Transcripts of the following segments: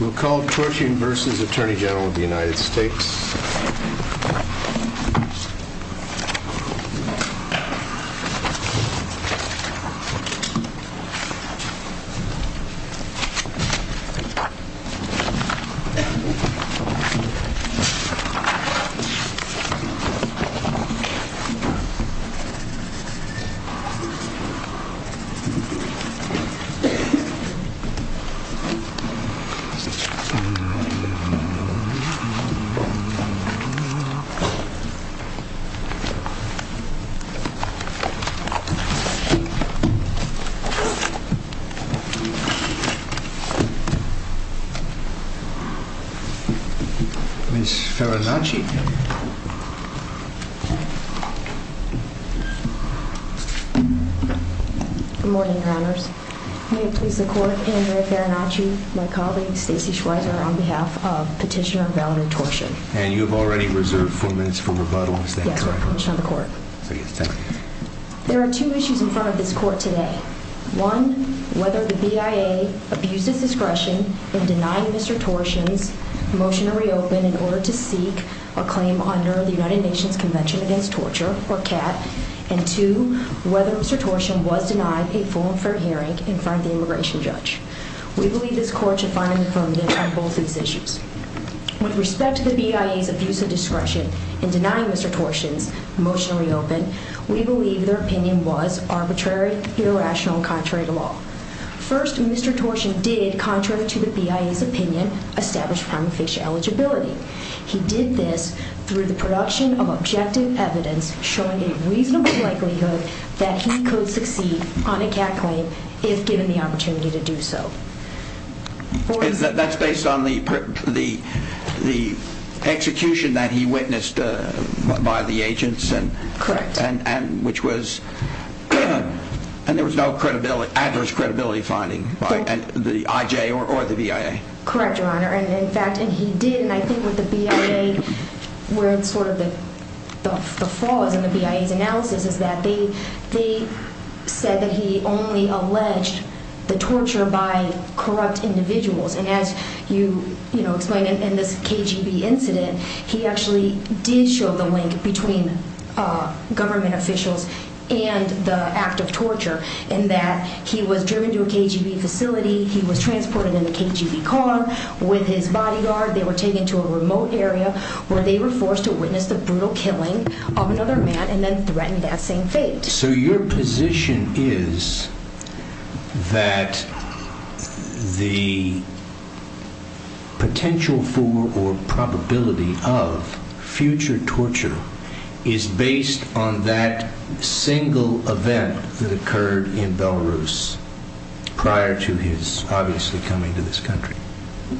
We'll call Torshin v. Attorney General of the United States. Ms. Farinacci? Good morning, Your Honors. May it please the Court, Andrea Farinacci, my colleague Stacey Schweizer, on behalf of Petitioner Valerie Torshin. And you have already reserved four minutes for rebuttal, is that correct? Yes, Your Honor. There are two issues in front of this Court today. One, whether the BIA abused its discretion in denying Mr. Torshin's motion to reopen in order to seek a claim under the United Nations Convention Against Torture, or CAT. And two, whether Mr. Torshin was denied a full and fair hearing in front of the immigration judge. We believe this Court should find an affirmative on both these issues. With respect to the BIA's abuse of discretion in denying Mr. Torshin's motion to reopen, we believe their opinion was arbitrary, irrational, and contrary to law. First, Mr. Torshin did, contrary to the BIA's opinion, establish prima facie eligibility. He did this through the production of objective evidence showing a reasonable likelihood that he could succeed on a CAT claim if given the opportunity to do so. That's based on the execution that he witnessed by the agents? Correct. And there was no adverse credibility finding by the IJ or the BIA? Correct, Your Honor. And in fact, he did. And I think with the BIA, where it's sort of the flaws in the BIA's analysis is that they said that he only alleged the torture by corrupt individuals. And as you explained in this KGB incident, he actually did show the link between government officials and the act of torture. In that he was driven to a KGB facility, he was transported in a KGB car with his bodyguard. They were taken to a remote area where they were forced to witness the brutal killing of another man and then threatened that same fate. So your position is that the potential for or probability of future torture is based on that single event that occurred in Belarus prior to his obviously coming to this country?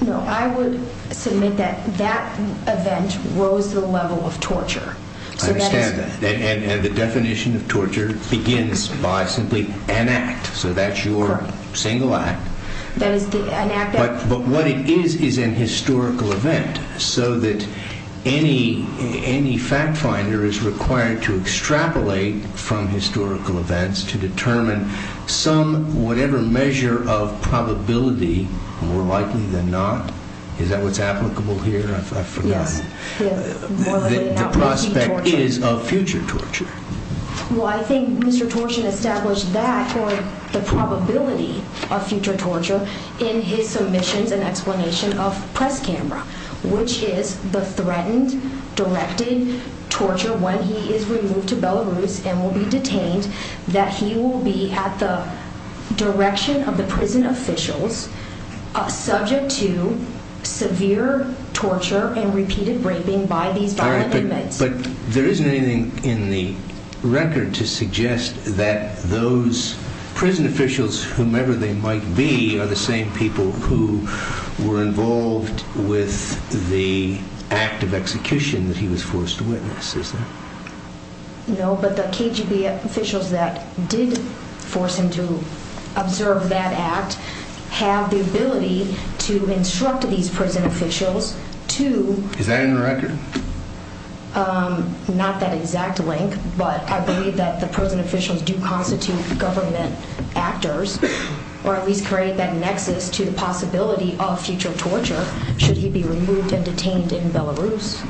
No, I would submit that that event rose the level of torture. I understand that. And the definition of torture begins by simply an act. So that's your single act. But what it is is an historical event. So that any fact finder is required to extrapolate from historical events to determine some whatever measure of probability, more likely than not. Is that what's applicable here? I've forgotten. Yes. The prospect is of future torture. Well, I think Mr. Torshin established that for the probability of future torture in his submissions and explanation of press camera, which is the threatened, directed torture when he is removed to Belarus and will be detained, that he will be at the direction of the prison officials, subject to severe torture and repeated raping by these. But there isn't anything in the record to suggest that those prison officials, whomever they might be, are the same people who were involved with the act of execution that he was forced to witness. No, but the KGB officials that did force him to observe that act have the ability to instruct these prison officials to. Is that in the record? Not that exact link, but I believe that the prison officials do constitute government actors or at least create that nexus to the possibility of future torture should he be removed and detained in Belarus.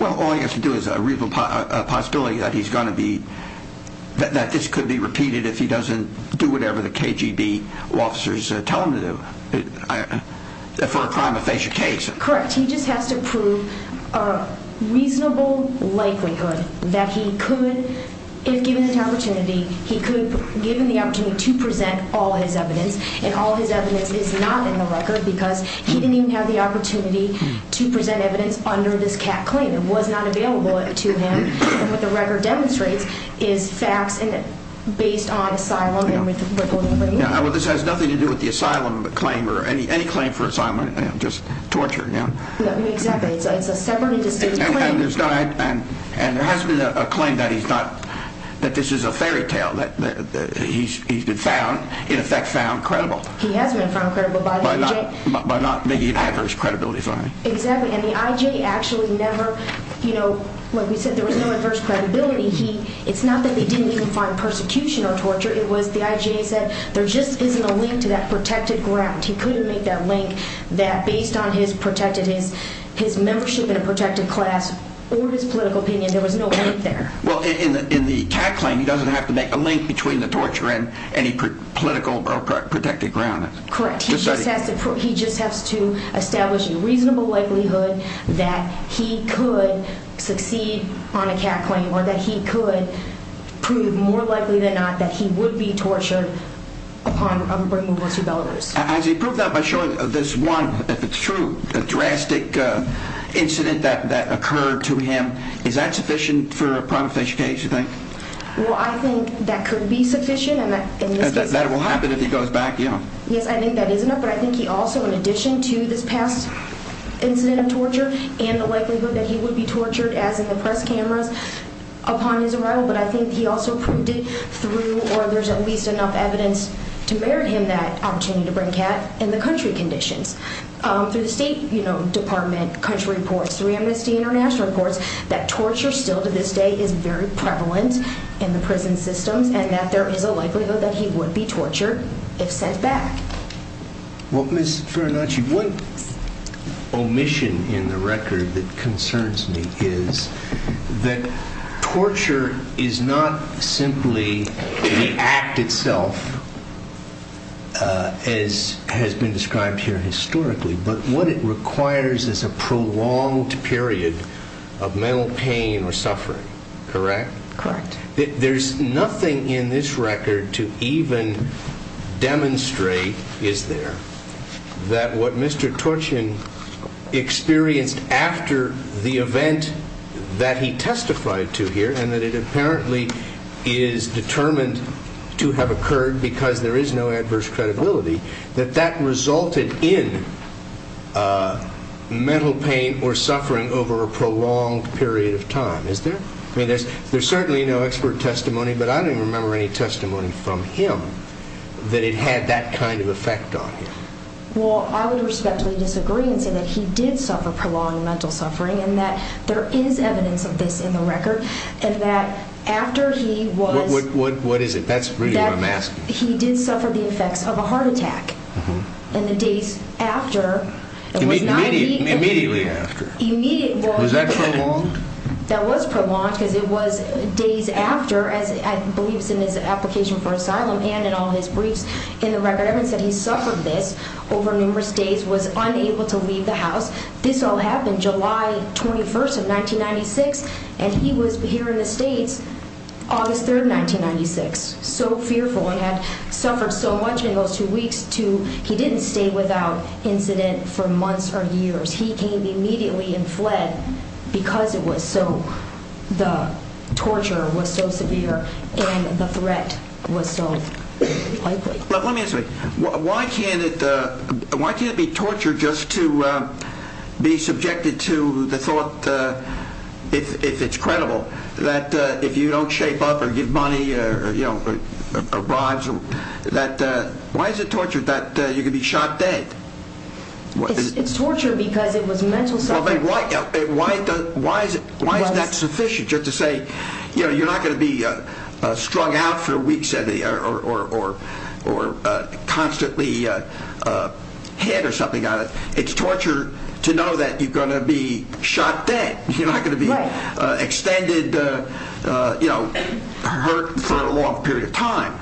Well, all you have to do is a real possibility that he's going to be that this could be repeated if he doesn't do whatever the KGB officers tell him to do for a crime of facial case. Correct. He just has to prove a reasonable likelihood that he could, if given the opportunity, he could give him the opportunity to present all his evidence. And all his evidence is not in the record because he didn't even have the opportunity to present evidence under this cat claim. It was not available to him. And what the record demonstrates is facts and based on asylum. This has nothing to do with the asylum claim or any claim for asylum, just torture. Exactly. It's a separate and distinct claim. And there has been a claim that he's not, that this is a fairy tale, that he's been found, in effect, found credible. He has been found credible by the IJ. By not making an adverse credibility finding. Exactly. And the IJ actually never, you know, like we said, there was no adverse credibility. It's not that they didn't even find persecution or torture. It was the IJ said there just isn't a link to that protected ground. He couldn't make that link that based on his protected, his membership in a protected class or his political opinion, there was no link there. Well, in the cat claim, he doesn't have to make a link between the torture and any political protected ground. Correct. He just has to establish a reasonable likelihood that he could succeed on a cat claim or that he could prove more likely than not that he would be tortured upon removal to Belarus. Has he proved that by showing this one, if it's true, drastic incident that occurred to him? Is that sufficient for a prima facie case, you think? Well, I think that could be sufficient. That will happen if he goes back. Yeah. Yes, I think that is enough. But I think he also, in addition to this past incident of torture and the likelihood that he would be tortured as in the press cameras upon his arrival, but I think he also proved it through or there's at least enough evidence to merit him that opportunity to bring cat in the country conditions. Through the State Department, country reports, through Amnesty International reports, that torture still to this day is very prevalent in the prison systems and that there is a likelihood that he would be tortured if sent back. Well, Ms. Farinacci, one omission in the record that concerns me is that torture is not simply the act itself, as has been described here historically, but what it requires is a prolonged period of mental pain or suffering, correct? Correct. There's nothing in this record to even demonstrate, is there, that what Mr. Turchin experienced after the event that he testified to here and that it apparently is determined to have occurred because there is no adverse credibility, that that resulted in mental pain or suffering over a prolonged period of time, is there? I mean, there's certainly no expert testimony, but I don't even remember any testimony from him that it had that kind of effect on him. Well, I would respectfully disagree and say that he did suffer prolonged mental suffering and that there is evidence of this in the record and that after he was- What is it? That's really what I'm asking. He did suffer the effects of a heart attack. Uh-huh. And the days after, it was not even- Immediately after. Immediate- Was that prolonged? That was prolonged because it was days after, as I believe is in his application for asylum and in all his briefs in the record, evidence that he suffered this over numerous days, was unable to leave the house. This all happened July 21st of 1996, and he was here in the States August 3rd, 1996, so fearful and had suffered so much in those two weeks to- he didn't stay without incident for months or years. He came immediately and fled because it was so- the torture was so severe and the threat was so likely. Let me ask you, why can't it be torture just to be subjected to the thought, if it's credible, that if you don't shape up or give money or bribes, that- why is it torture that you could be shot dead? It's torture because it was mental suffering. Why is that sufficient? Just to say, you know, you're not going to be strung out for weeks or constantly hit or something. It's torture to know that you're going to be shot dead. You're not going to be extended, you know, hurt for a long period of time.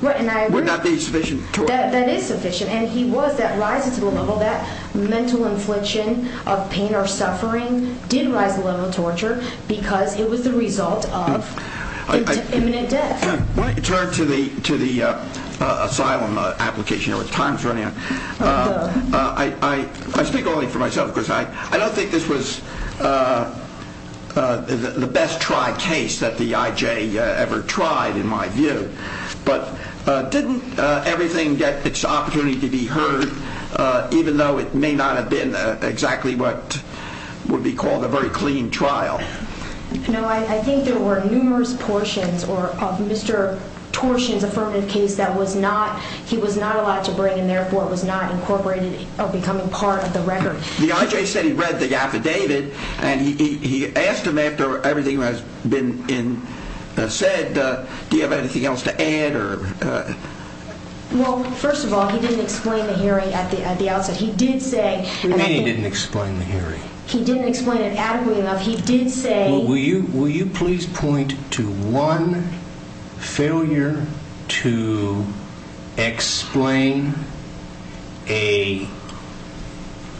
Wouldn't that be sufficient torture? That is sufficient, and he was. That rises to the level that mental infliction of pain or suffering did rise to the level of torture because it was the result of imminent death. Why don't you turn to the asylum application, or what time is running out? I speak only for myself because I don't think this was the best-tried case that the IJ ever tried, in my view. But didn't everything get its opportunity to be heard, even though it may not have been exactly what would be called a very clean trial? No, I think there were numerous portions of Mr. Torshin's affirmative case that was not- he was not allowed to bring, and therefore was not incorporated or becoming part of the record. The IJ said he read the affidavit, and he asked him after everything has been said, do you have anything else to add? Well, first of all, he didn't explain the hearing at the outset. He did say- What do you mean he didn't explain the hearing? He didn't explain it adequately enough. He did say- Will you please point to one failure to explain a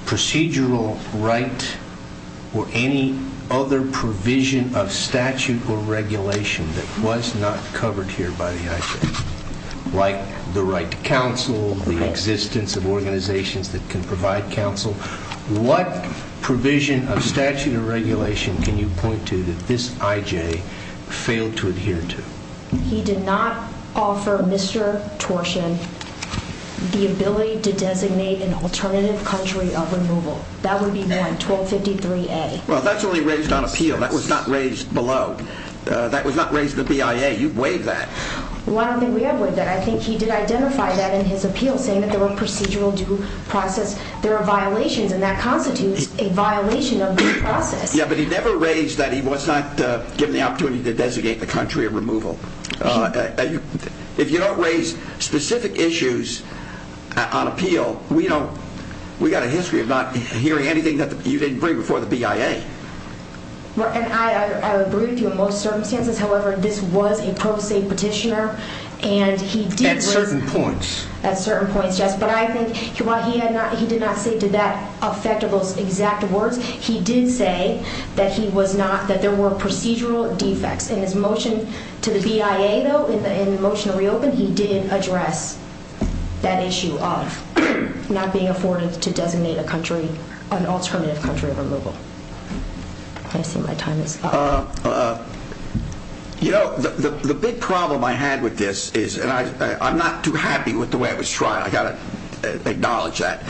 procedural right or any other provision of statute or regulation that was not covered here by the IJ, like the right to counsel, the existence of organizations that can provide counsel? What provision of statute or regulation can you point to that this IJ failed to adhere to? He did not offer Mr. Torshin the ability to designate an alternative country of removal. That would be one, 1253A. Well, that's only raised on appeal. That was not raised below. That was not raised in the BIA. You've waived that. Well, I don't think we have waived that. I think he did identify that in his appeal, saying that there were procedural due process. There are violations, and that constitutes a violation of due process. Yeah, but he never raised that he was not given the opportunity to designate the country of removal. If you don't raise specific issues on appeal, we've got a history of not hearing anything that you didn't bring before the BIA. I would agree with you in most circumstances. However, this was a pro se petitioner, and he did- At certain points. At certain points, yes. But I think while he did not say did that affect those exact words, he did say that there were procedural defects. In his motion to the BIA, though, in the motion to reopen, he did address that issue of not being afforded to designate an alternative country of removal. I see my time is up. The big problem I had with this is, and I'm not too happy with the way it was tried. I've got to acknowledge that,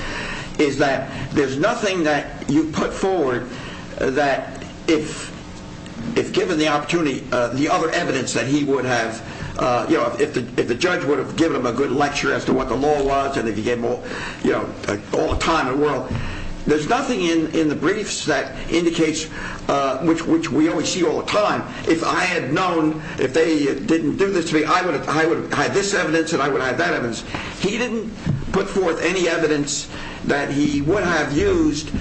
is that there's nothing that you put forward that if given the opportunity, the other evidence that he would have, if the judge would have given him a good lecture as to what the law was and if he gave all the time in the world, there's nothing in the briefs that indicates, which we only see all the time, if I had known, if they didn't do this to me, I would have had this evidence and I would have had that evidence. He didn't put forth any evidence that he would have used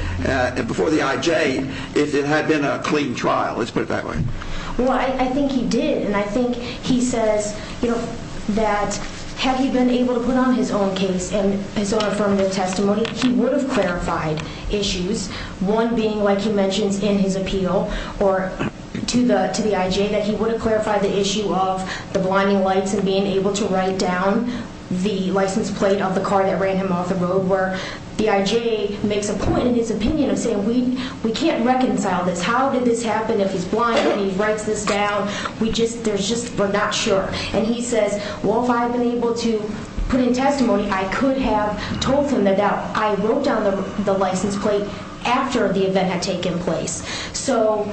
before the IJ if it had been a clean trial. Let's put it that way. Well, I think he did, and I think he says that had he been able to put on his own case and his own affirmative testimony, he would have clarified issues. One being, like he mentions in his appeal to the IJ, that he would have clarified the issue of the blinding lights and being able to write down the license plate of the car that ran him off the road where the IJ makes a point in his opinion of saying we can't reconcile this. How did this happen if he's blind and he writes this down? We just, there's just, we're not sure. And he says, well, if I had been able to put in testimony, I could have told him that I wrote down the license plate after the event had taken place. So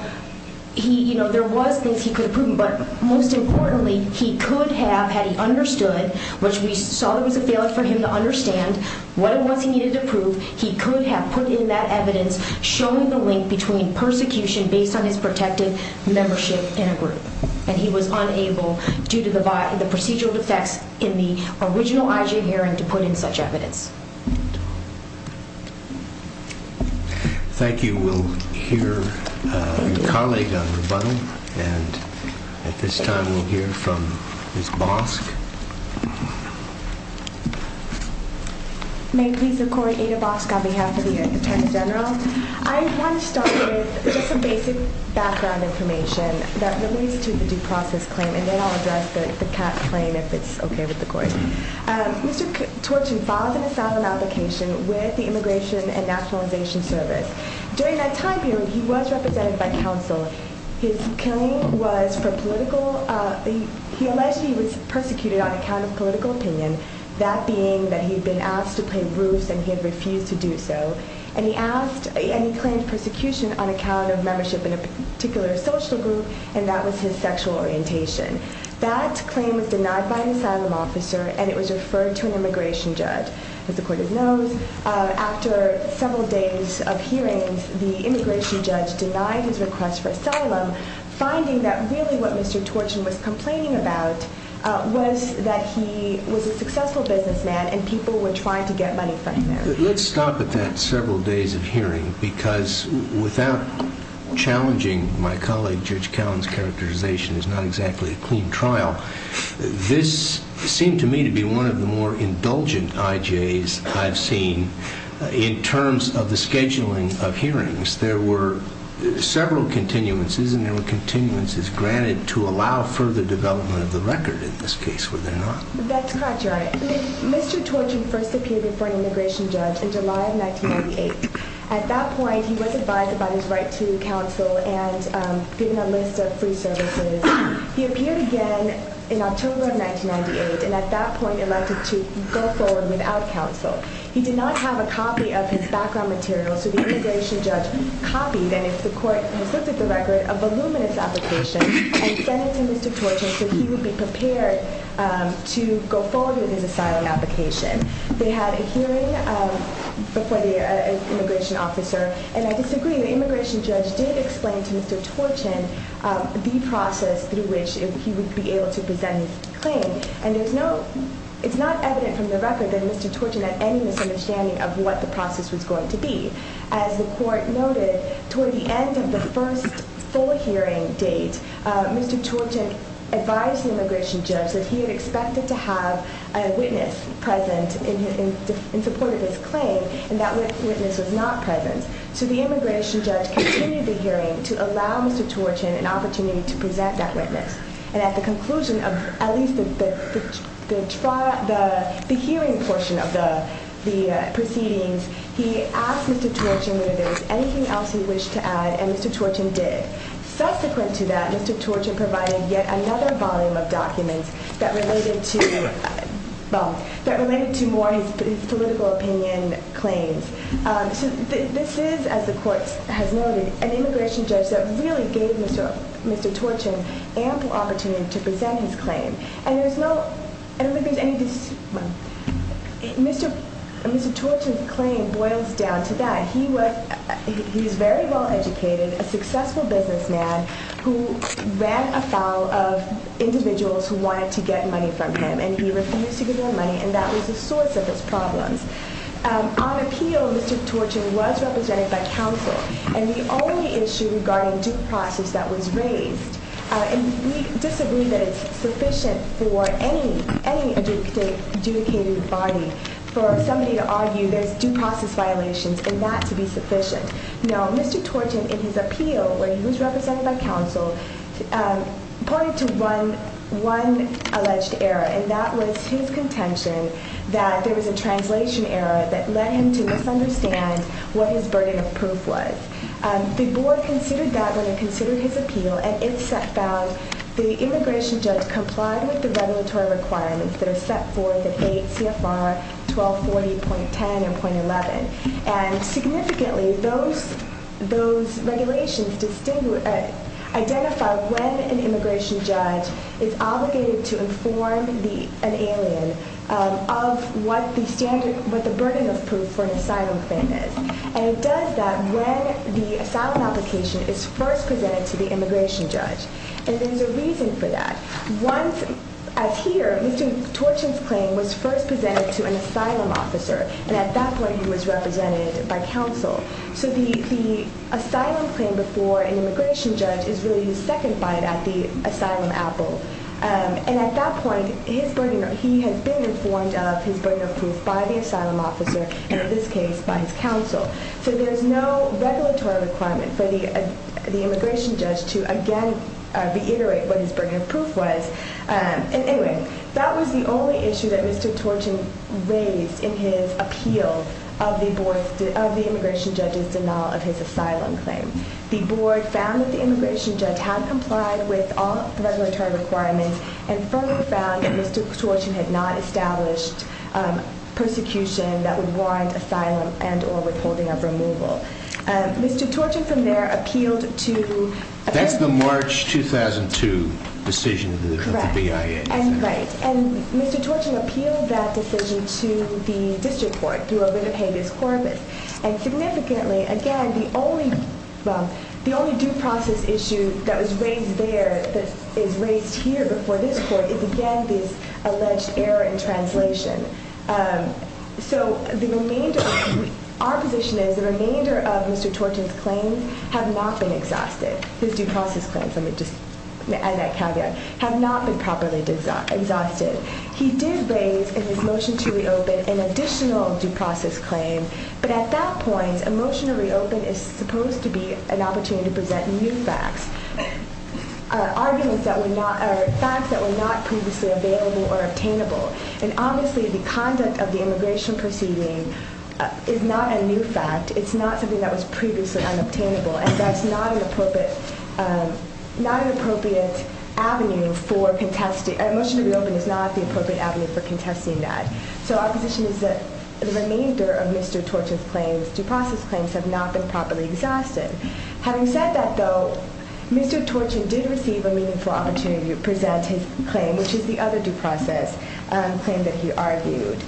there was things he could have proven, but most importantly, he could have, had he understood, which we saw there was a failure for him to understand what it was he needed to prove, he could have put in that evidence showing the link between persecution based on his protected membership in a group. And he was unable, due to the procedural effects in the original IJ hearing, to put in such evidence. Thank you. We will hear your colleague on rebuttal, and at this time we'll hear from Ms. Bosk. May it please the Court, Ada Bosk on behalf of the Attorney General. I want to start with just some basic background information that relates to the due process claim, and then I'll address the CAT claim if it's okay with the Court. Mr. Torchin filed an asylum application with the Immigration and Nationalization Service. During that time period, he was represented by counsel. His claim was for political, he alleged he was persecuted on account of political opinion, that being that he had been asked to pay roofs and he had refused to do so. And he asked, and he claimed persecution on account of membership in a particular social group, and that was his sexual orientation. That claim was denied by an asylum officer, and it was referred to an immigration judge. As the Court of knows, after several days of hearings, the immigration judge denied his request for asylum, finding that really what Mr. Torchin was complaining about was that he was a successful businessman and people were trying to get money from him. Let's stop at that several days of hearing, because without challenging my colleague, Judge Cowen's characterization is not exactly a clean trial. This seemed to me to be one of the more indulgent IJs I've seen in terms of the scheduling of hearings. There were several continuances, and there were continuances granted to allow further development of the record in this case. Were there not? That's correct, Your Honor. Mr. Torchin first appeared before an immigration judge in July of 1998. At that point, he was advised about his right to counsel and given a list of free services. He appeared again in October of 1998, and at that point elected to go forward without counsel. He did not have a copy of his background material, so the immigration judge copied, and the court has looked at the record, a voluminous application and sent it to Mr. Torchin so he would be prepared to go forward with his asylum application. They had a hearing before the immigration officer, and I disagree. The immigration judge did explain to Mr. Torchin the process through which he would be able to present his claim, and it's not evident from the record that Mr. Torchin had any misunderstanding of what the process was going to be. As the court noted, toward the end of the first full hearing date, Mr. Torchin advised the immigration judge that he had expected to have a witness present in support of his claim, and that witness was not present. So the immigration judge continued the hearing to allow Mr. Torchin an opportunity to present that witness, and at the conclusion of at least the hearing portion of the proceedings, he asked Mr. Torchin whether there was anything else he wished to add, and Mr. Torchin did. Subsequent to that, Mr. Torchin provided yet another volume of documents that related to more of his political opinion claims. This is, as the court has noted, an immigration judge that really gave Mr. Torchin ample opportunity to present his claim, and Mr. Torchin's claim boils down to that. He was very well-educated, a successful businessman who ran afoul of individuals who wanted to get money from him, and he refused to give them money, and that was the source of his problems. On appeal, Mr. Torchin was represented by counsel, and the only issue regarding due process that was raised, and we disagree that it's sufficient for any adjudicated body for somebody to argue there's due process violations, and that to be sufficient. Now, Mr. Torchin, in his appeal, where he was represented by counsel, pointed to one alleged error, and that was his contention that there was a translation error that led him to misunderstand what his burden of proof was. The board considered that when it considered his appeal, and it found the immigration judge complied with the regulatory requirements that are set forth in 8 CFR 1240.10 and 11, and significantly those regulations identify when an immigration judge is obligated to inform an alien of what the standard, what the burden of proof for an asylum claim is, and it does that when the asylum application is first presented to the immigration judge, and there's a reason for that. Once, as here, Mr. Torchin's claim was first presented to an asylum officer, and at that point he was represented by counsel. So the asylum claim before an immigration judge is really his second fight at the asylum apple, and at that point he has been informed of his burden of proof by the asylum officer, and in this case by his counsel. So there's no regulatory requirement for the immigration judge to again reiterate what his burden of proof was. Anyway, that was the only issue that Mr. Torchin raised in his appeal of the immigration judge's denial of his asylum claim. The board found that the immigration judge had complied with all the regulatory requirements and further found that Mr. Torchin had not established persecution that would warrant asylum and or withholding of removal. Mr. Torchin from there appealed to- That's the March 2002 decision of the BIA. Correct, and right. And Mr. Torchin appealed that decision to the district court through a Winnipeg-based corpus, and significantly, again, the only due process issue that was raised there that is raised here before this court is again this alleged error in translation. So our position is the remainder of Mr. Torchin's claims have not been exhausted. His due process claims, let me just add that caveat, have not been properly exhausted. He did raise in his motion to reopen an additional due process claim, but at that point, a motion to reopen is supposed to be an opportunity to present new facts, arguments that were not- facts that were not previously available or obtainable. And obviously, the conduct of the immigration proceeding is not a new fact. It's not something that was previously unobtainable, and that's not an appropriate avenue for contesting- a motion to reopen is not the appropriate avenue for contesting that. So our position is that the remainder of Mr. Torchin's claims, due process claims, have not been properly exhausted. Having said that, though, Mr. Torchin did receive a meaningful opportunity to present his claim, which is the other due process claim that he argued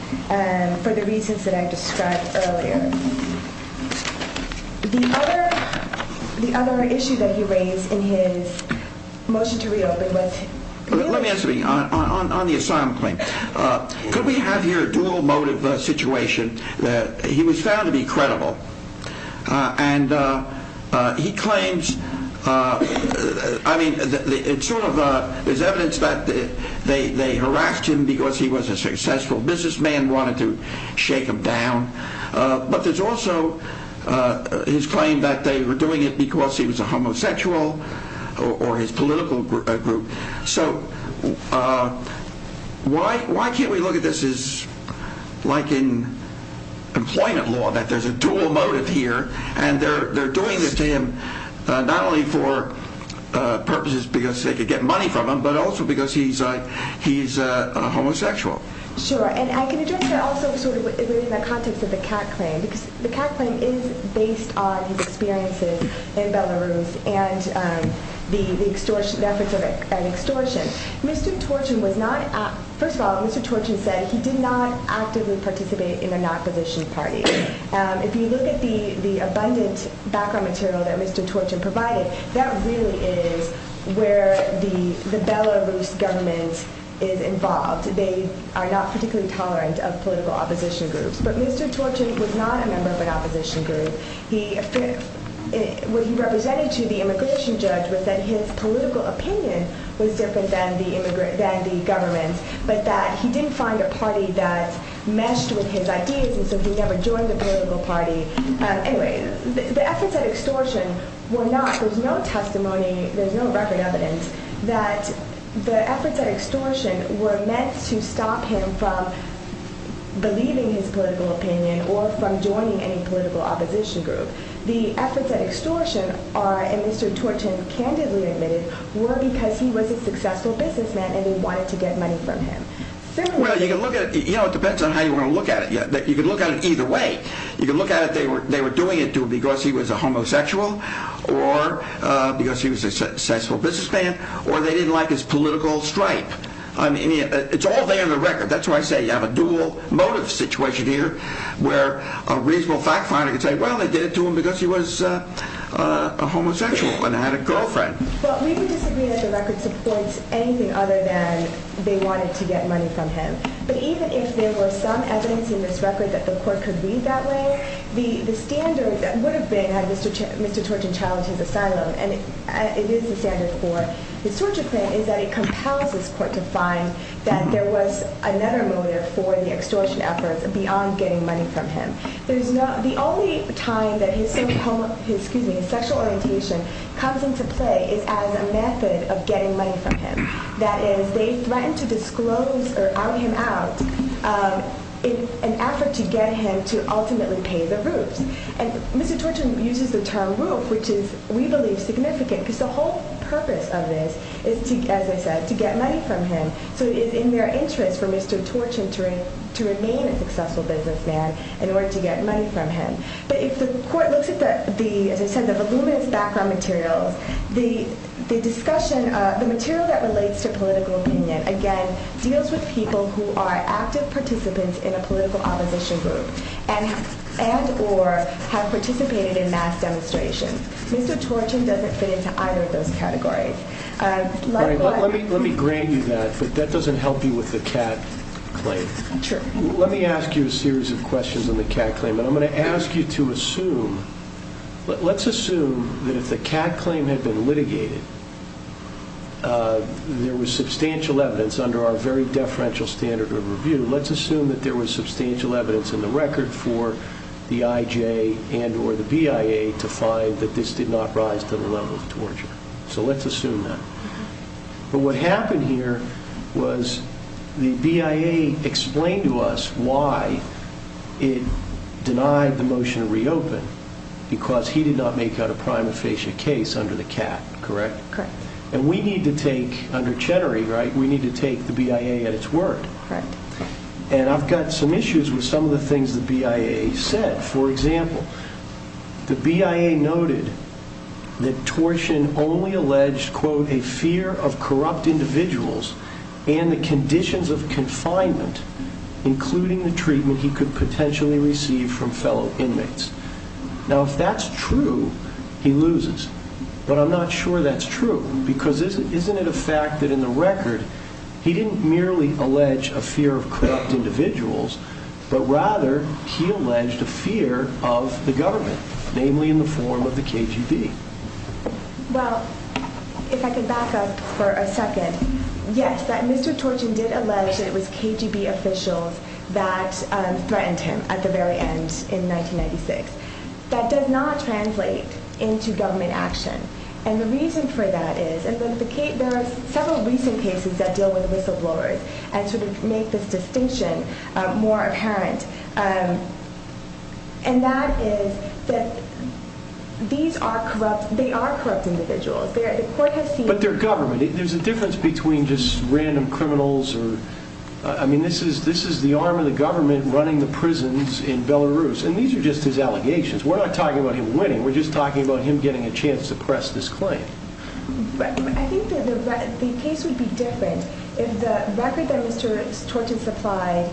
for the reasons that I described earlier. The other issue that he raised in his motion to reopen was- Let me answer you on the asylum claim. Could we have here a dual motive situation? He was found to be credible, and he claims- I mean, it's sort of- there's evidence that they harassed him because he was a successful businessman, and wanted to shake him down. But there's also his claim that they were doing it because he was a homosexual or his political group. So why can't we look at this as like in employment law, that there's a dual motive here, and they're doing this to him not only for purposes because they could get money from him, but also because he's a homosexual. Sure, and I can address that also sort of in the context of the CAC claim, because the CAC claim is based on his experiences in Belarus and the efforts at extortion. Mr. Torchin was not- first of all, Mr. Torchin said he did not actively participate in an opposition party. If you look at the abundant background material that Mr. Torchin provided, that really is where the Belarus government is involved. They are not particularly tolerant of political opposition groups. But Mr. Torchin was not a member of an opposition group. What he represented to the immigration judge was that his political opinion was different than the government's, but that he didn't find a party that meshed with his ideas, and so he never joined the political party. Anyway, the efforts at extortion were not- there's no testimony, there's no record evidence, that the efforts at extortion were meant to stop him from believing his political opinion or from joining any political opposition group. The efforts at extortion are, and Mr. Torchin candidly admitted, were because he was a successful businessman and they wanted to get money from him. Well, you can look at it- you know, it depends on how you want to look at it. You can look at it either way. You can look at it they were doing it because he was a homosexual or because he was a successful businessman or they didn't like his political stripe. I mean, it's all there in the record. That's why I say you have a dual motive situation here where a reasonable fact finder can say, well, they did it to him because he was a homosexual and had a girlfriend. Well, we can disagree that the record supports anything other than they wanted to get money from him, but even if there were some evidence in this record that the court could read that way, the standard that would have been had Mr. Torchin challenged his asylum, and it is the standard for his torture claim, is that it compels this court to find that there was another motive for the extortion efforts beyond getting money from him. The only time that his sexual orientation comes into play is as a method of getting money from him. That is, they threatened to disclose or out him out in an effort to get him to ultimately pay the roofs. And Mr. Torchin uses the term roof, which is, we believe, significant because the whole purpose of this is, as I said, to get money from him. So it is in their interest for Mr. Torchin to remain a successful businessman in order to get money from him. But if the court looks at the, as I said, the voluminous background materials, the discussion, the material that relates to political opinion, again, deals with people who are active participants in a political opposition group and or have participated in mass demonstrations. Mr. Torchin doesn't fit into either of those categories. Let me grant you that, but that doesn't help you with the Kat claim. Let me ask you a series of questions on the Kat claim, and I'm going to ask you to assume, let's assume that if the Kat claim had been litigated, there was substantial evidence under our very deferential standard of review, let's assume that there was substantial evidence in the record for the IJ and or the BIA to find that this did not rise to the level of torture. So let's assume that. But what happened here was the BIA explained to us why it denied the motion to reopen because he did not make out a prima facie case under the Kat, correct? Correct. And we need to take, under Cheddary, right, we need to take the BIA at its word. Correct. And I've got some issues with some of the things the BIA said. For example, the BIA noted that Torshin only alleged, quote, a fear of corrupt individuals and the conditions of confinement, including the treatment he could potentially receive from fellow inmates. Now, if that's true, he loses. But I'm not sure that's true because isn't it a fact that in the record, he didn't merely allege a fear of corrupt individuals, but rather he alleged a fear of the government, namely in the form of the KGB. Well, if I could back up for a second. Yes, that Mr. Torshin did allege that it was KGB officials that threatened him at the very end in 1996. That does not translate into government action. And the reason for that is, and there are several recent cases that deal with whistleblowers and sort of make this distinction more apparent, and that is that these are corrupt individuals. But they're government. There's a difference between just random criminals. I mean, this is the arm of the government running the prisons in Belarus, and these are just his allegations. We're not talking about him winning. We're just talking about him getting a chance to press this claim. I think the case would be different if the record that Mr. Torshin supplied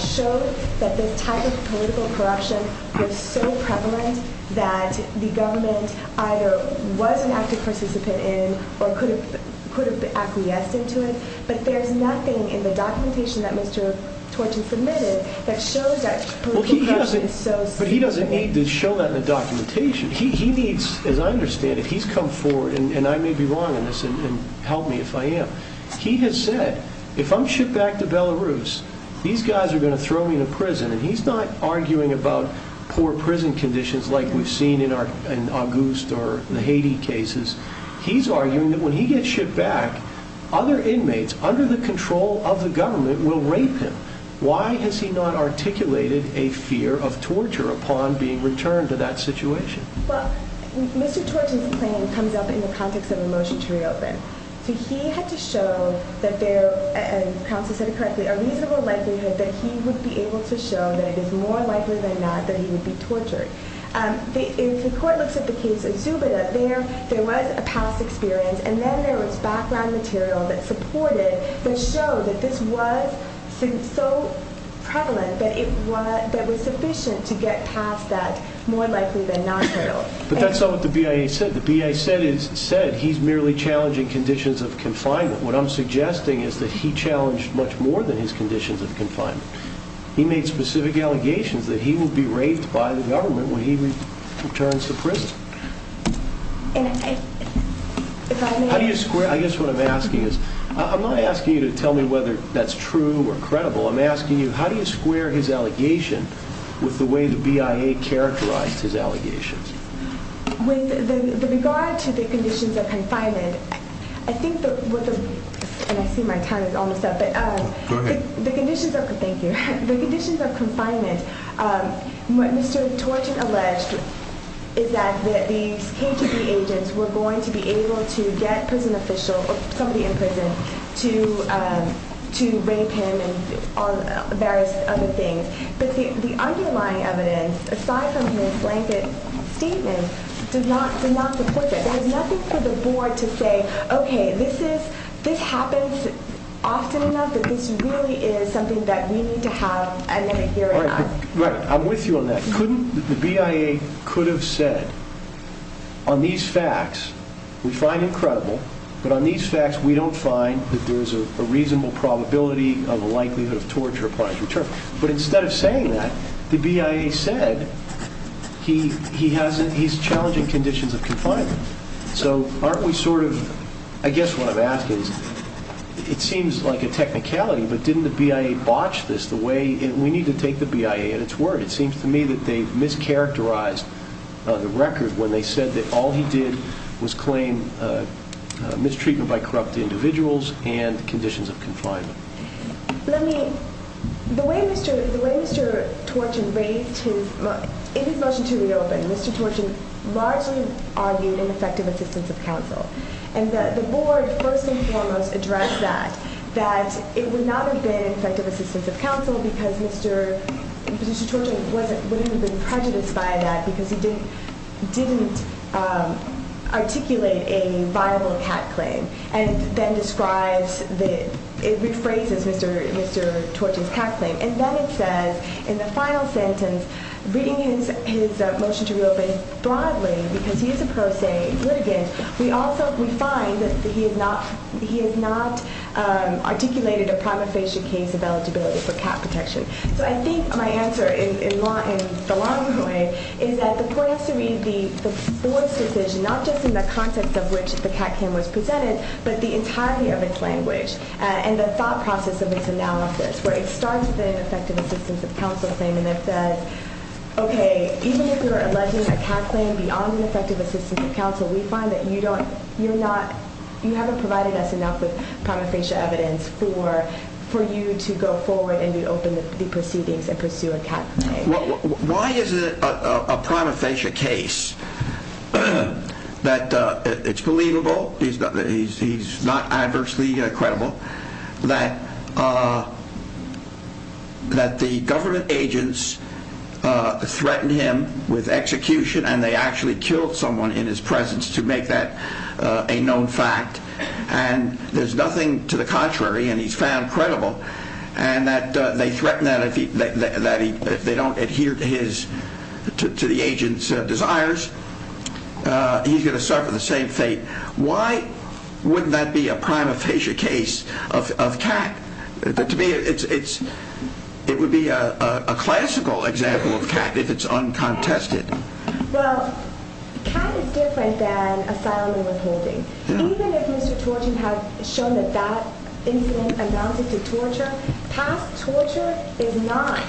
showed that this type of political corruption was so prevalent that the government either was an active participant in or could have acquiesced into it. But there's nothing in the documentation that Mr. Torshin submitted that shows that political corruption is so significant. But he doesn't need to show that in the documentation. He needs, as I understand it, he's come forward, and I may be wrong on this, and help me if I am. He has said, if I'm shipped back to Belarus, these guys are going to throw me in a prison. And he's not arguing about poor prison conditions like we've seen in August or the Haiti cases. He's arguing that when he gets shipped back, other inmates under the control of the government will rape him. Why has he not articulated a fear of torture upon being returned to that situation? Well, Mr. Torshin's claim comes up in the context of a motion to reopen. So he had to show that there, and counsel said it correctly, a reasonable likelihood that he would be able to show that it is more likely than not that he would be tortured. If the court looks at the case of Zubida, there was a past experience, and then there was background material that supported that showed that this was so prevalent that it was sufficient to get past that more likely than not hurdle. But that's not what the BIA said. The BIA said he's merely challenging conditions of confinement. What I'm suggesting is that he challenged much more than his conditions of confinement. He made specific allegations that he will be raped by the government when he returns to prison. How do you square, I guess what I'm asking is, I'm not asking you to tell me whether that's true or credible. I'm asking you how do you square his allegation with the way the BIA characterized his allegations? With regard to the conditions of confinement, I think what the, and I see my time is almost up, but the conditions of, thank you, the conditions of confinement, what Mr. Torshin alleged is that these KGB agents were going to be able to get a prison official or somebody in prison to rape him and various other things. But the underlying evidence, aside from his blanket statement, does not support that. There's nothing for the board to say, okay, this happens often enough that this really is something that we need to have a minute here and ask. Right, I'm with you on that. The BIA could have said on these facts we find him credible, but on these facts we don't find that there's a reasonable probability of a likelihood of torture upon his return. But instead of saying that, the BIA said he's challenging conditions of confinement. So aren't we sort of, I guess what I'm asking is, it seems like a technicality, but didn't the BIA botch this the way, we need to take the BIA at its word. It seems to me that they've mischaracterized the record when they said that all he did was claim mistreatment by corrupt individuals and conditions of confinement. Let me, the way Mr. Torshin raised his, in his motion to reopen, Mr. Torshin largely argued ineffective assistance of counsel. And the board first and foremost addressed that, that it would not have been effective assistance of counsel because Mr. Torshin wouldn't have been prejudiced by that because he didn't articulate a viable CAT claim. And then describes, rephrases Mr. Torshin's CAT claim. And then it says in the final sentence, reading his motion to reopen broadly, because he is a pro se litigant, we also, we find that he has not, he has not articulated a prima facie case of eligibility for CAT protection. So I think my answer, in the long run way, is that the point is to read the board's decision, not just in the context of which the CAT claim was presented, but the entirety of its language. And the thought process of its analysis, where it starts with an effective assistance of counsel claim, and it says, okay, even if you're alleging a CAT claim beyond an effective assistance of counsel, we find that you don't, you're not, you haven't provided us enough with prima facie evidence for you to go forward and reopen the proceedings and pursue a CAT claim. Why is it a prima facie case that it's believable, he's not adversely credible, that the government agents threatened him with execution and they actually killed someone in his presence, to make that a known fact, and there's nothing to the contrary, and he's found credible, and that they threaten that if they don't adhere to his, to the agent's desires, he's going to suffer the same fate. Why wouldn't that be a prima facie case of CAT? To me it's, it would be a classical example of CAT if it's uncontested. Well, CAT is different than asylum and withholding. Even if Mr. Torton had shown that that incident amounted to torture, past torture is not,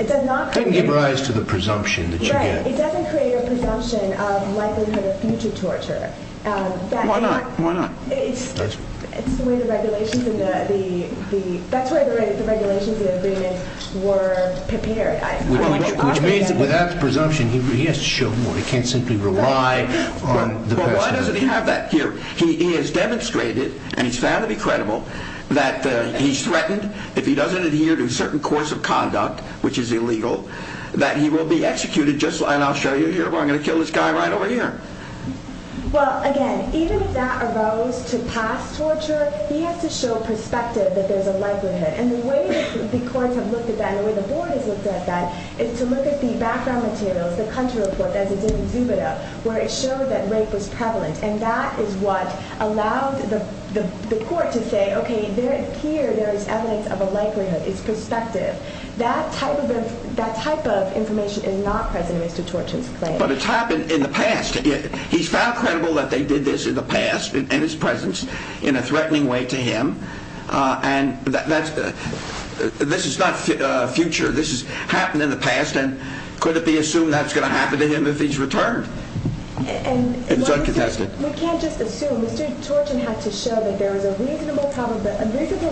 it does not create... It doesn't give rise to the presumption that you get. Right, it doesn't create a presumption of likelihood of future torture. Why not? Why not? It's the way the regulations and the, that's the way the regulations and the agreements were prepared. Which means that without presumption, he has to show more. He can't simply rely on the person... Well, why doesn't he have that here? He has demonstrated, and he's found to be credible, that he's threatened, if he doesn't adhere to a certain course of conduct, which is illegal, that he will be executed just like, and I'll show you here, I'm going to kill this guy right over here. Well, again, even if that arose to past torture, he has to show perspective that there's a likelihood, and the way the courts have looked at that, and the way the board has looked at that, is to look at the background materials, the country report, as it's in Exubita, where it showed that rape was prevalent, and that is what allowed the court to say, okay, here there is evidence of a likelihood, it's perspective. That type of information is not present in Mr. Torton's claim. But it's happened in the past. He's found credible that they did this in the past, in his presence, in a threatening way to him, and this is not future. This has happened in the past, and could it be assumed that's going to happen to him if he's returned? It's uncontested. We can't just assume. Mr. Torton had to show that there was a reasonable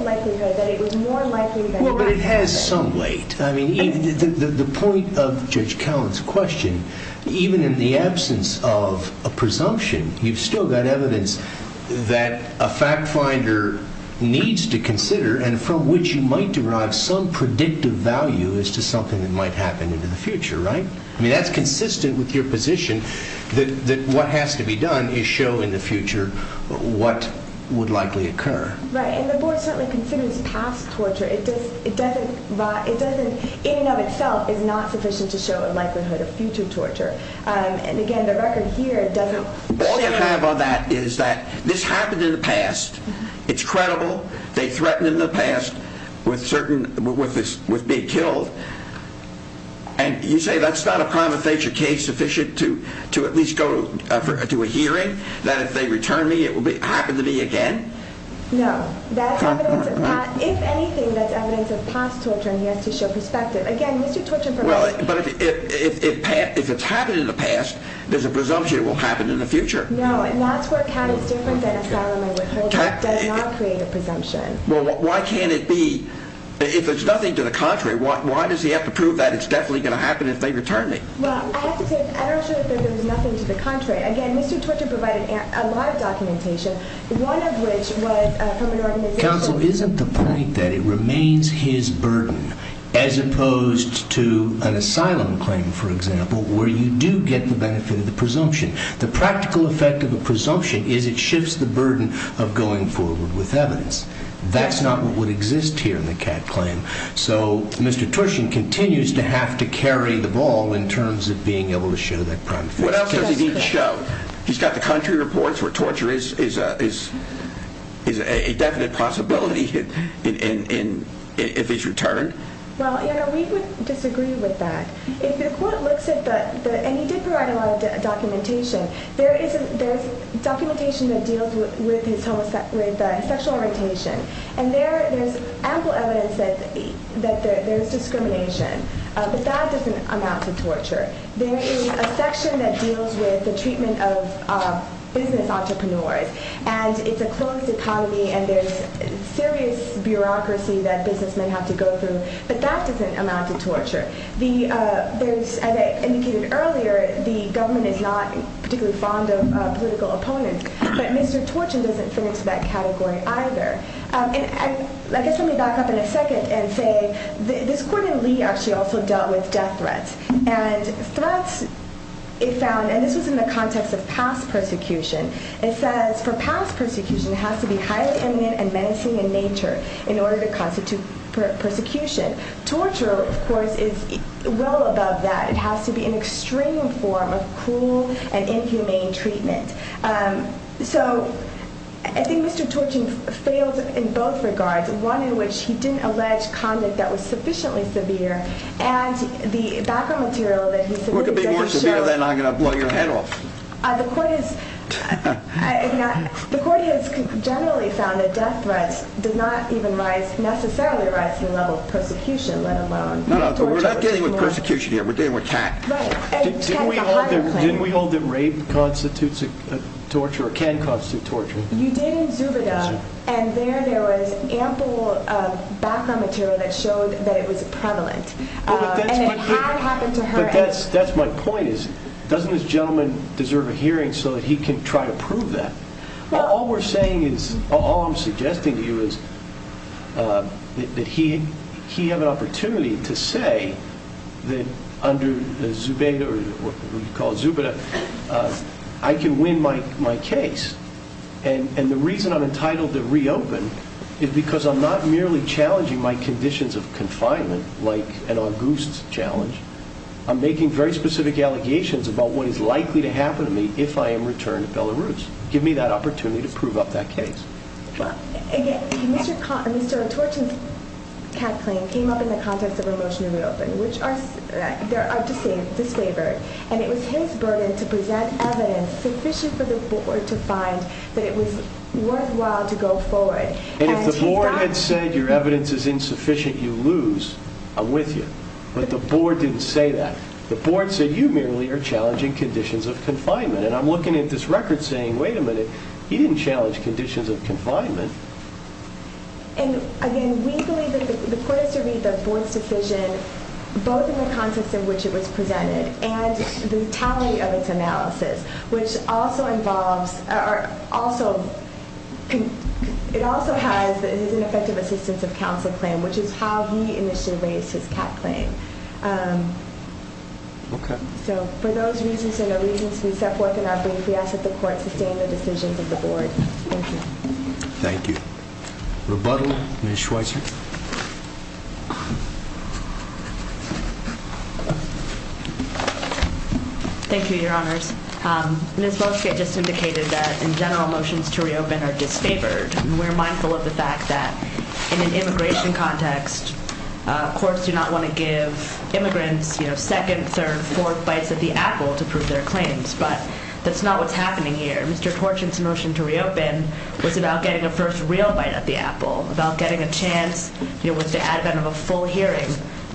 likelihood that it was more likely than not. Well, but it has some weight. The point of Judge Cowen's question, even in the absence of a presumption, you've still got evidence that a fact finder needs to consider, and from which you might derive some predictive value as to something that might happen in the future, right? I mean, that's consistent with your position that what has to be done is show in the future what would likely occur. Right, and the board certainly considers past torture. It doesn't, in and of itself, is not sufficient to show a likelihood of future torture. And again, the record here doesn't... All you have on that is that this happened in the past. It's credible. They threatened in the past with being killed, and you say that's not a prima facie case sufficient to at least go to a hearing, that if they return me it will happen to me again? No. If anything, that's evidence of past torture, and he has to show perspective. Well, but if it's happened in the past, there's a presumption it will happen in the future. No. Well, why can't it be? If it's nothing to the contrary, why does he have to prove that it's definitely going to happen if they return me? Well, I have to say, I don't show that there's nothing to the contrary. Again, Mr. Torture provided a lot of documentation, one of which was from an organization... Counsel, isn't the point that it remains his burden as opposed to an asylum claim, for example, where you do get the benefit of the presumption? The practical effect of a presumption is it shifts the burden of going forward with evidence. That's not what would exist here in the Catt claim, so Mr. Torshin continues to have to carry the ball in terms of being able to show that prima facie. What else does he need to show? He's got the country reports where torture is a definite possibility if it's returned. Well, you know, we would disagree with that. If the court looks at the... And he did provide a lot of documentation. There's documentation that deals with his sexual orientation, and there's ample evidence that there's discrimination, but that doesn't amount to torture. There is a section that deals with the treatment of business entrepreneurs, and it's a closed economy, and there's serious bureaucracy that businessmen have to go through, but that doesn't amount to torture. As I indicated earlier, the government is not particularly fond of political opponents, but Mr. Torshin doesn't fit into that category either. And I guess let me back up in a second and say this court in Lee actually also dealt with death threats, and threats it found, and this was in the context of past persecution, it says for past persecution, it has to be highly eminent and menacing in nature in order to constitute persecution. Torture, of course, is well above that. It has to be an extreme form of cruel and inhumane treatment. So I think Mr. Torshin failed in both regards, one in which he didn't allege conduct that was sufficiently severe, and the background material that he submitted... Could be more severe than I'm going to blow your head off. The court has generally found that death threats do not even necessarily rise to the level of persecution, let alone torture. We're not dealing with persecution here, we're dealing with cat. Didn't we hold that rape constitutes torture or can constitute torture? You did in Zubida, and there there was ample background material that showed that it was prevalent, and it had happened to her. That's my point. Doesn't this gentleman deserve a hearing so that he can try to prove that? All I'm suggesting to you is that he have an opportunity to say that under Zubida, I can win my case, and the reason I'm entitled to reopen is because I'm not merely challenging my conditions of confinement like an august challenge. I'm making very specific allegations about what is likely to happen to me if I am returned to Belarus. Give me that opportunity to prove up that case. Mr. Torshin's cat claim came up in the context of a motion to reopen, which are disfavored, and it was his burden to present evidence sufficient for the board to find that it was worthwhile to go forward. And if the board had said your evidence is insufficient, you lose. I'm with you. But the board didn't say that. The board said you merely are challenging conditions of confinement, and I'm looking at this record saying, wait a minute, he didn't challenge conditions of confinement. And again, we believe that the court has to read the board's decision both in the context in which it was presented and the totality of its analysis, which also has his ineffective assistance of counsel claim, which is how he initially raised his cat claim. So for those reasons and the reasons we set forth in our brief, we ask that the court sustain the decisions of the board. Thank you. Thank you. Rebuttal, Ms. Schweitzer. Thank you, Your Honors. Ms. Boeschke just indicated that, in general, motions to reopen are disfavored, and we're mindful of the fact that in an immigration context, courts do not want to give immigrants, you know, second, third, fourth bites at the apple to prove their claims, but that's not what's happening here. Mr. Torshin's motion to reopen was about getting a first real bite at the apple, about getting a chance to prove their claims. It was the advent of a full hearing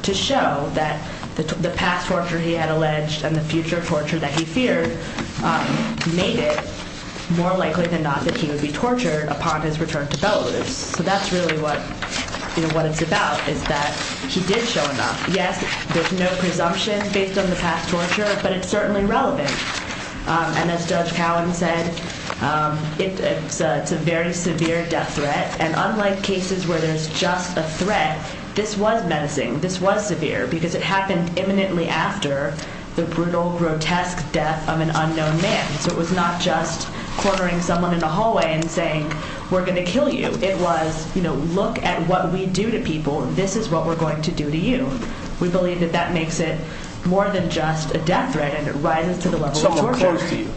to show that the past torture he had alleged and the future torture that he feared made it more likely than not that he would be tortured upon his return to Belarus. So that's really what it's about, is that he did show enough. Yes, there's no presumption based on the past torture, but it's certainly relevant. And as Judge Cowen said, it's a very severe death threat, and unlike cases where there's just a threat, this was menacing, this was severe, because it happened imminently after the brutal, grotesque death of an unknown man. So it was not just cornering someone in a hallway and saying, we're going to kill you. It was, you know, look at what we do to people. This is what we're going to do to you. We believe that that makes it more than just a death threat and it rises to the level of torture. Someone close to you.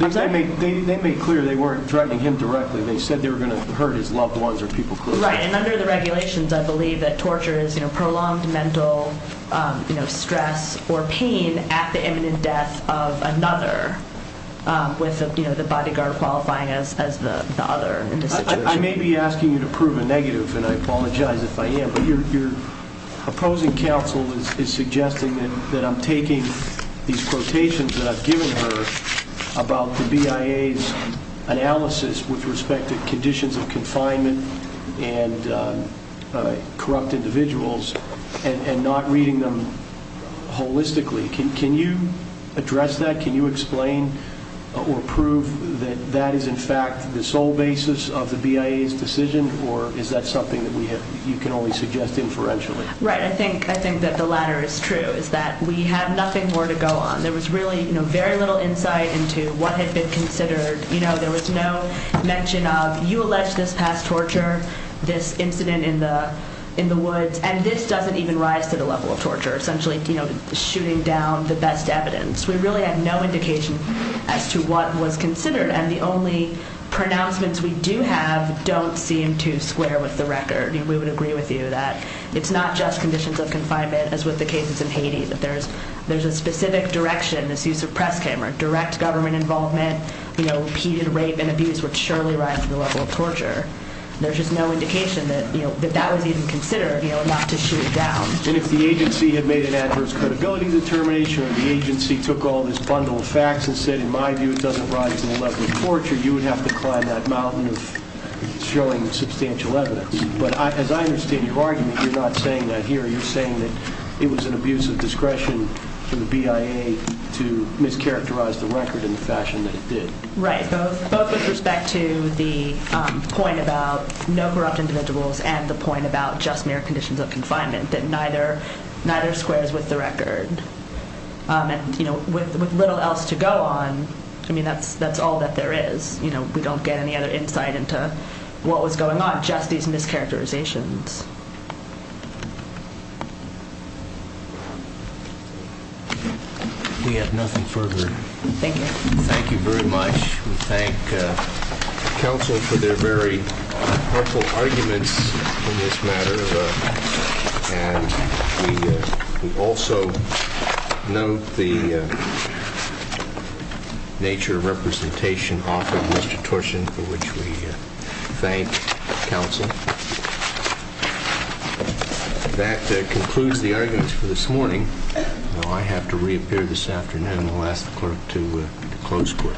They made clear they weren't threatening him directly. They said they were going to hurt his loved ones or people close to him. Right, and under the regulations, I believe that torture is, you know, prolonged mental stress or pain at the imminent death of another with the bodyguard qualifying as the other in this situation. I may be asking you to prove a negative, and I apologize if I am, but your opposing counsel is suggesting that I'm taking these quotations that I've given her about the BIA's analysis with respect to conditions of confinement and corrupt individuals and not reading them holistically. Can you address that? Can you explain or prove that that is, in fact, the sole basis of the BIA's decision, or is that something that you can only suggest inferentially? Right, I think that the latter is true, is that we have nothing more to go on. There was really very little insight into what had been considered. There was no mention of, you allege this past torture, this incident in the woods, and this doesn't even rise to the level of torture, essentially shooting down the best evidence. We really have no indication as to what was considered, and the only pronouncements we do have don't seem to square with the record. We would agree with you that it's not just conditions of confinement as with the cases in Haiti, that there's a specific direction, this use of press camera, direct government involvement, repeated rape and abuse would surely rise to the level of torture. There's just no indication that that was even considered, not to shoot it down. And if the agency had made an adverse credibility determination or the agency took all this bundle of facts and said, in my view, it doesn't rise to the level of torture, you would have to climb that mountain of showing substantial evidence. But as I understand your argument, you're not saying that here. You're saying that it was an abuse of discretion from the BIA to mischaracterize the record in the fashion that it did. Right, both with respect to the point about no corrupt individuals and the point about just mere conditions of confinement, that neither squares with the record. With little else to go on, I mean, that's all that there is. We don't get any other insight into what was going on, just these mischaracterizations. We have nothing further. Thank you. Thank you very much. We thank counsel for their very powerful arguments in this matter. And we also note the nature of representation offered, Mr. Torshin, for which we thank counsel. That concludes the arguments for this morning. Now I have to reappear this afternoon. I'll ask the clerk to close court.